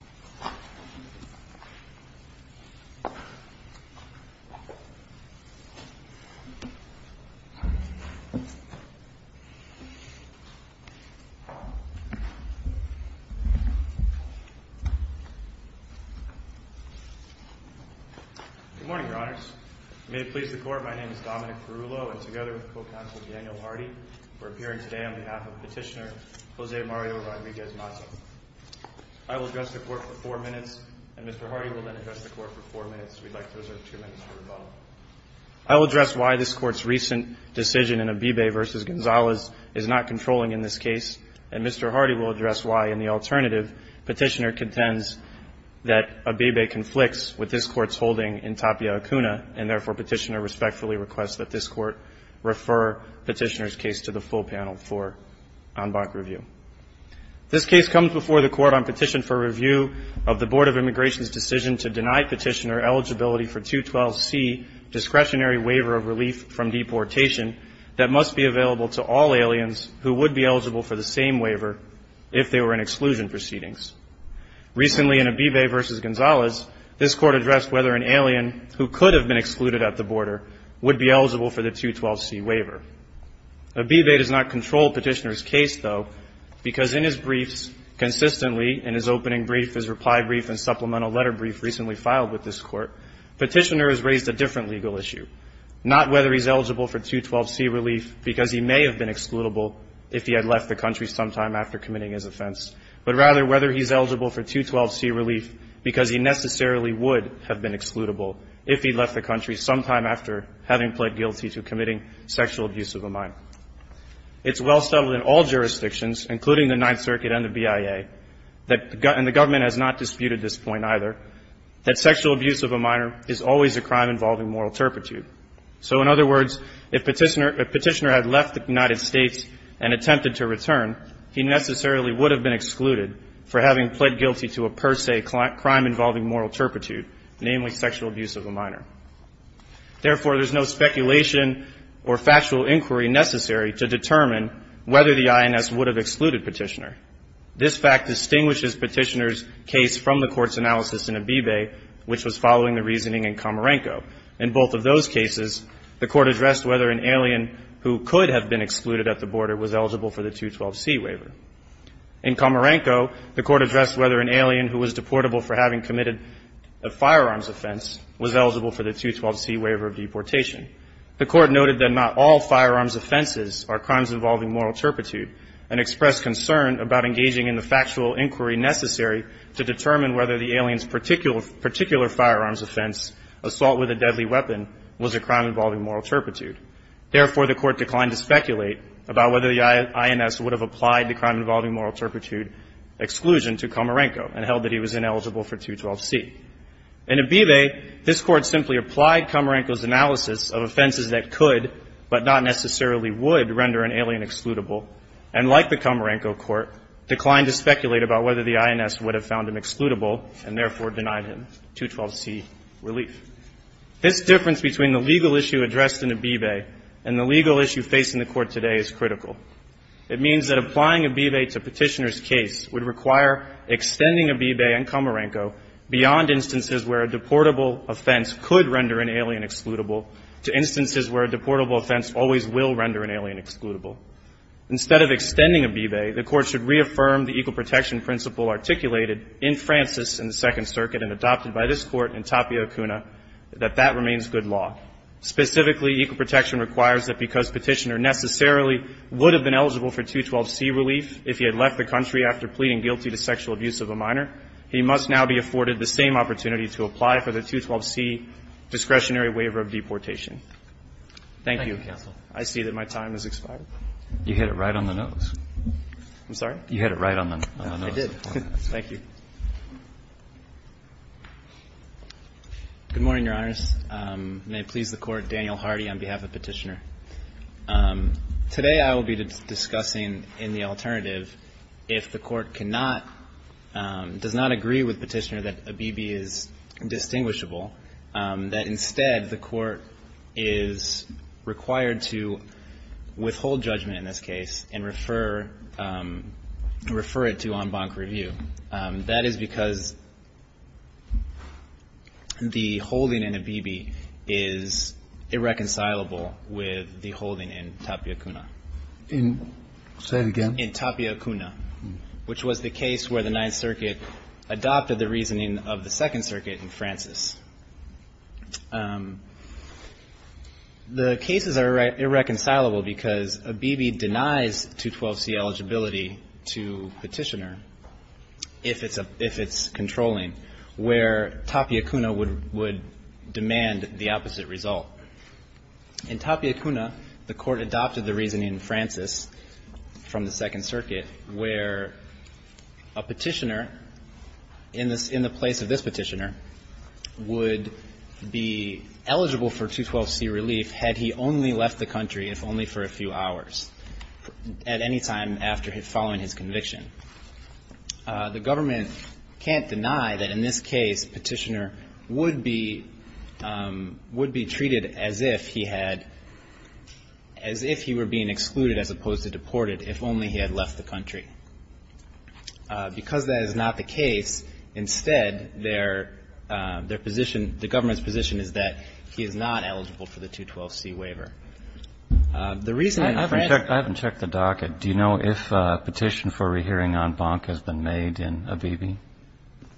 Good morning, Your Honors. May it please the Court, my name is Dominic Perullo, and together with Co-Counsel Daniel Hardy, we're appearing today on behalf of Petitioner Jose Mario Rodriguez-Mata. I will address the Court for four minutes, and Mr. Hardy will then address the Court for four minutes. We'd like to reserve two minutes for rebuttal. I will address why this Court's recent decision in Abebe v. Gonzales is not controlling in this case, and Mr. Hardy will address why, in the alternative, Petitioner contends that Abebe conflicts with this Court's holding in Tapia Acuna, and therefore Petitioner respectfully requests that this Court refer Petitioner's case to the full panel for en banc review. This case comes before the Court on petition for review of the Board of Immigration's decision to deny Petitioner eligibility for 212C, discretionary waiver of relief from deportation, that must be available to all aliens who would be eligible for the same waiver if they were in exclusion proceedings. Recently in Abebe v. Gonzales, this Court addressed whether an alien who could have been excluded at the border would be eligible for the 212C waiver. Abebe does not control Petitioner's case, though, because in his briefs consistently, in his opening brief, his reply brief, and supplemental letter brief recently filed with this Court, Petitioner has raised a different legal issue, not whether he's eligible for 212C relief because he may have been excludable if he had left the country sometime after committing his offense, but rather whether he's eligible for 212C relief because he necessarily would have been excludable if he left the country sometime after having pled guilty to committing sexual abuse of a minor. It's well settled in all jurisdictions, including the Ninth Circuit and the BIA, and the government has not disputed this point either, that sexual abuse of a minor is always a crime involving moral turpitude. So in other words, if Petitioner had left the United States and attempted to return, he necessarily would have been excluded for having pled guilty to a per se crime involving moral turpitude, namely sexual abuse of a minor. Therefore, there's no speculation or factual inquiry necessary to determine whether the INS would have excluded Petitioner. This fact distinguishes Petitioner's case from the Court's analysis in Abebe, which was following the reasoning in Comarenco. In both of those cases, the Court addressed whether an alien who could have been excluded at the border was eligible for the 212C waiver. In Comarenco, the Court addressed whether an alien who was deportable for having committed a firearms offense was eligible for the 212C waiver of deportation. The Court noted that not all firearms offenses are crimes involving moral turpitude and expressed concern about engaging in the factual inquiry necessary to determine whether the alien's particular firearms offense, assault with a deadly weapon, was a crime involving moral turpitude. Therefore, the Court declined to speculate about whether the INS would have applied the crime involving moral turpitude exclusion to Comarenco and held that he was ineligible for 212C. In Abebe, this Court simply applied Comarenco's analysis of offenses that could but not necessarily would render an alien excludable and, like the Comarenco Court, declined to speculate about whether the INS would have found him excludable and therefore denied him 212C relief. This difference between the legal issue addressed in Abebe and the legal issue facing the Court today is critical. It means that applying Abebe to Petitioner's case would require extending Abebe and Comarenco beyond instances where a deportable offense could render an alien excludable to instances where a deportable offense always will render an alien excludable. Instead of extending Abebe, the Court should reaffirm the equal protection principle articulated in Francis in the Second Circuit and adopted by this Court in Tapio-Kuna that that remains good law. Specifically, equal protection requires that because Petitioner necessarily would have been eligible for 212C relief if he had left the country after pleading guilty to sexual abuse of a minor, he must now be afforded the same opportunity to apply for the 212C discretionary waiver of deportation. Thank you. I see that my time has expired. You hit it right on the nose. I'm sorry? You hit it right on the nose. I did. Thank you. Good morning, Your Honors. May it please the Court, Daniel Hardy on behalf of Petitioner. Today I will be discussing in the alternative if the Court cannot, does not agree with Petitioner that Abebe is distinguishable, that instead the Court is required to withhold judgment in this case and refer it to en banc review. That is because the holding in Abebe is irreconcilable with the holding in Tapio-Kuna. In? Say it again. In Tapio-Kuna, which was the case where the Ninth Circuit adopted the reasoning of the Second Circuit in Francis. The cases are irreconcilable because Abebe denies 212C eligibility to Petitioner if it's controlling, where Tapio-Kuna would demand the opposite result. In Tapio-Kuna, the Court adopted the reasoning in Francis from the Second Circuit where a Petitioner in the place of this Petitioner would be eligible for 212C relief had he only left the country if only for a few hours at any time following his conviction. The government can't deny that in this case Petitioner would be treated as if he had, as if he were being excluded as opposed to deported if only he had left the country. Because that is not the case, instead, their position, the government's position, is that he is not eligible for the 212C waiver. The reason in France. I haven't checked the docket. Do you know if a petition for rehearing en banc has been made in Abebe?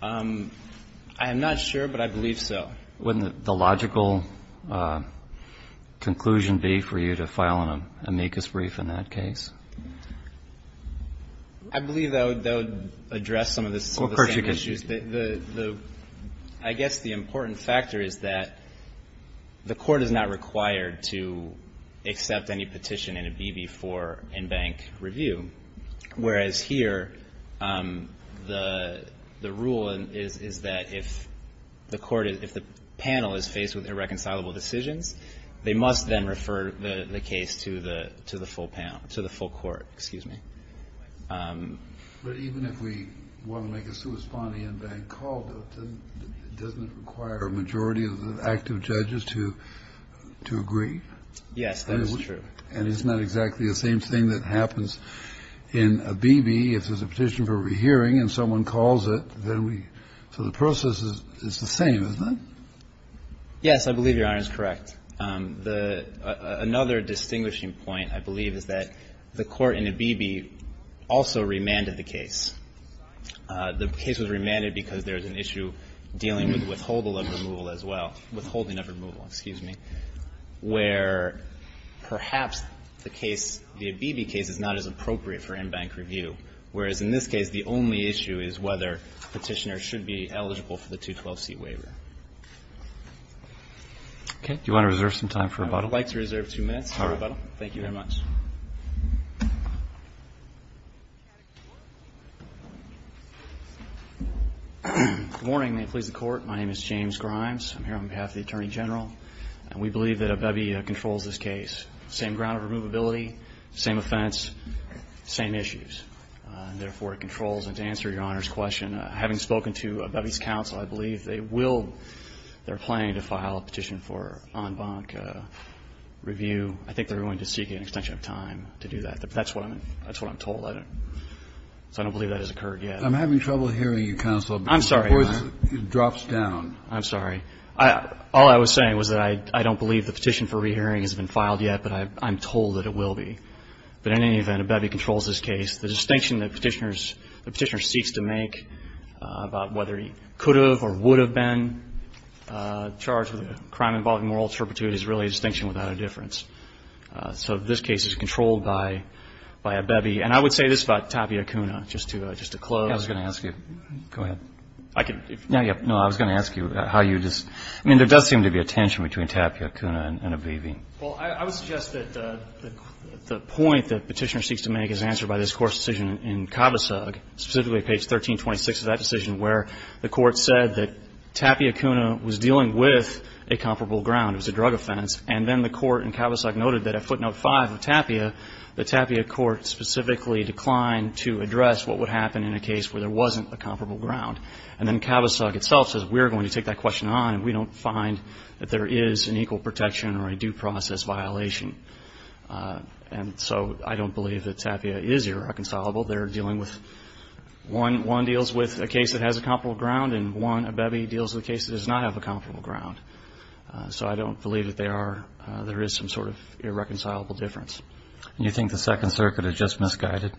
I am not sure, but I believe so. Wouldn't the logical conclusion be for you to file an amicus brief in that case? I believe that would address some of the issues. I guess the important factor is that the Court is not required to accept any petition in Abebe for en banc review, whereas here, the rule is that if the Petitioner panel is faced with irreconcilable decisions, they must then refer the case to the full panel, to the full court. Excuse me. But even if we want to make a sui sponte en banc call, doesn't it require a majority of the active judges to agree? Yes, that is true. And it's not exactly the same thing that happens in Abebe. If there's a petition for rehearing and someone calls it, then we, so the process is the same, isn't it? Yes, I believe Your Honor is correct. Another distinguishing point, I believe, is that the Court in Abebe also remanded the case. The case was remanded because there was an issue dealing with withholding of removal as well, withholding of removal, excuse me, where perhaps the case, the Abebe case is not as appropriate for en banc review, whereas in this case, the only issue is whether Petitioner should be eligible for the 212C waiver. Okay. Do you want to reserve some time for rebuttal? I would like to reserve two minutes for rebuttal. Thank you very much. Good morning. May it please the Court. My name is James Grimes. I'm here on behalf of the Attorney General. And we believe that Abebe controls this case. Same ground of removability, same offense, same issues. Therefore, it controls. And to answer Your Honor's question, having spoken to Abebe's counsel, I believe they will, they're planning to file a petition for en banc review. I think they're going to seek an extension of time to do that. That's what I'm told. So I don't believe that has occurred yet. I'm having trouble hearing you, counsel. I'm sorry, Your Honor. The voice drops down. I'm sorry. All I was saying was that I don't believe the petition for rehearing has been filed yet, but I'm told that it will be. But in any event, Abebe controls this case. The distinction the Petitioner seeks to make about whether he could have or would have been charged with a crime involving moral turpitude is really a distinction without a difference. So this case is controlled by Abebe. And I would say this about Tapia Kuna, just to close. I was going to ask you. Go ahead. I can. No, I was going to ask you how you just – I mean, there does seem to be a tension between Tapia Kuna and Abebe. Well, I would suggest that the point that Petitioner seeks to make is answered by this Court's decision in Cavasug, specifically page 1326 of that decision, where the Court said that Tapia Kuna was dealing with a comparable ground. It was a drug offense. And then the Court in Cavasug noted that at footnote 5 of Tapia, the Tapia Court specifically declined to address what would happen in a case where there wasn't a comparable ground. And then Cavasug itself says, we're going to take that question on, and we don't find that there is an equal protection or a due process violation. And so I don't believe that Tapia is irreconcilable. They're dealing with – one deals with a case that has a comparable ground, and one, Abebe, deals with a case that does not have a comparable ground. So I don't believe that there is some sort of irreconcilable difference. And you think the Second Circuit had just misguided?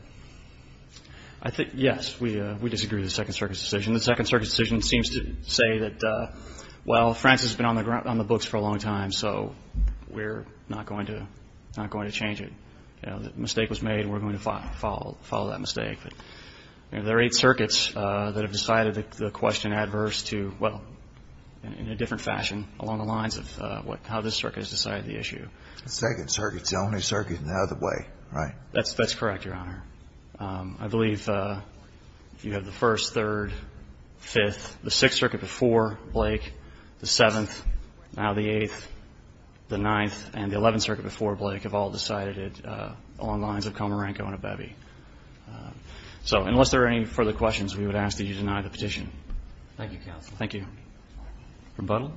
Yes. We disagree with the Second Circuit's decision. The Second Circuit's decision seems to say that, well, France has been on the books for a long time, so we're not going to change it. The mistake was made, and we're going to follow that mistake. But there are eight circuits that have decided the question adverse to, well, in a different fashion along the lines of how this circuit has decided the issue. The Second Circuit's the only circuit in the other way, right? That's correct, Your Honor. I believe you have the First, Third, Fifth, the Sixth Circuit before Blake, the Seventh, now the Eighth, the Ninth, and the Eleventh Circuit before Blake have all decided it along the lines of Comarenco and Abebe. So unless there are any further questions, we would ask that you deny the petition. Thank you, counsel. Thank you. Rebuttal.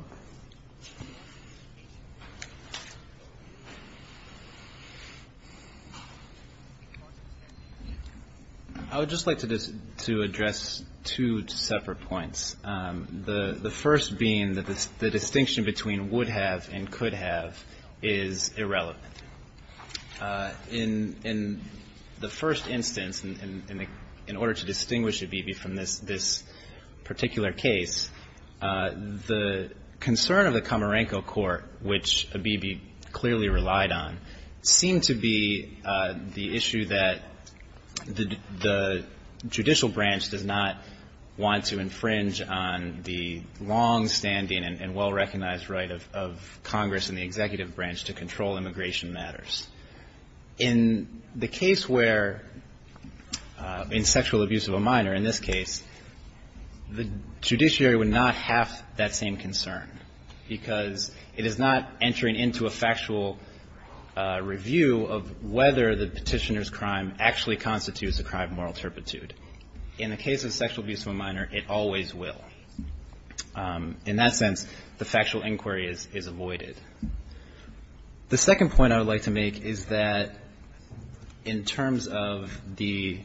I would just like to address two separate points, the first being that the distinction between would have and could have is irrelevant. In the first instance, in order to distinguish Abebe from this particular case, the concern of the Comarenco court, which Abebe clearly relied on, seemed to be the issue that the judicial branch does not want to infringe on the longstanding and well-recognized right of Congress and the executive branch to control immigration matters. In the case where, in sexual abuse of a minor in this case, the judiciary would not have that same concern, because it is not entering into a factual review of whether the petitioner's crime actually constitutes a crime of moral turpitude. In the case of sexual abuse of a minor, it always will. In that sense, the factual inquiry is avoided. The second point I would like to make is that in terms of the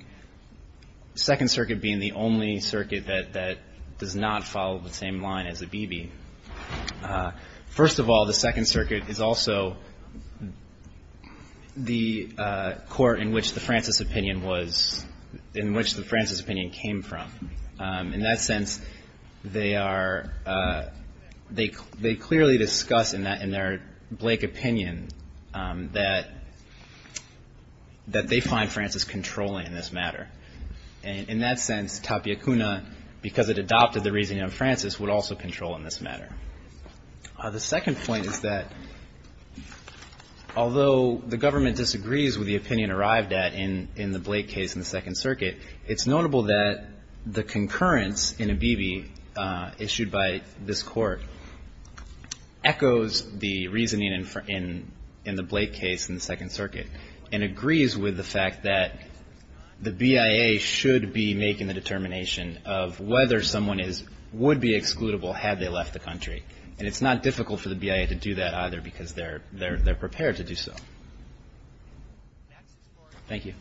Second Circuit being the only circuit that does not follow the same line as Abebe, first of all, the Second Circuit is also the court in which the Francis opinion was, in which the Francis opinion came from. In that sense, they are, they clearly discuss in that in their Blake opinion that they find Francis controlling in this matter. In that sense, Tapia Kuna, because it adopted the reasoning of Francis, would also control in this matter. The second point is that although the government disagrees with the opinion arrived at in the Blake case in the Second Circuit, it's notable that the concurrence in Abebe issued by this Court echoes the reasoning in the Blake case in the Second Circuit and agrees with the fact that the BIA should be making the determination of whether someone is, would be excludable had they left the country. And it's not difficult for the BIA to do that either, because they're prepared to do so. Thank you.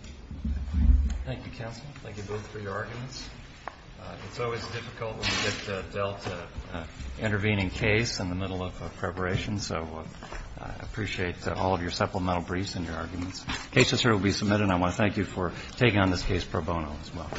Thank you, counsel. Thank you both for your arguments. It's always difficult when you get dealt an intervening case in the middle of a preparation, so I appreciate all of your supplemental briefs and your arguments. Cases here will be submitted, and I want to thank you for taking on this case pro bono as well.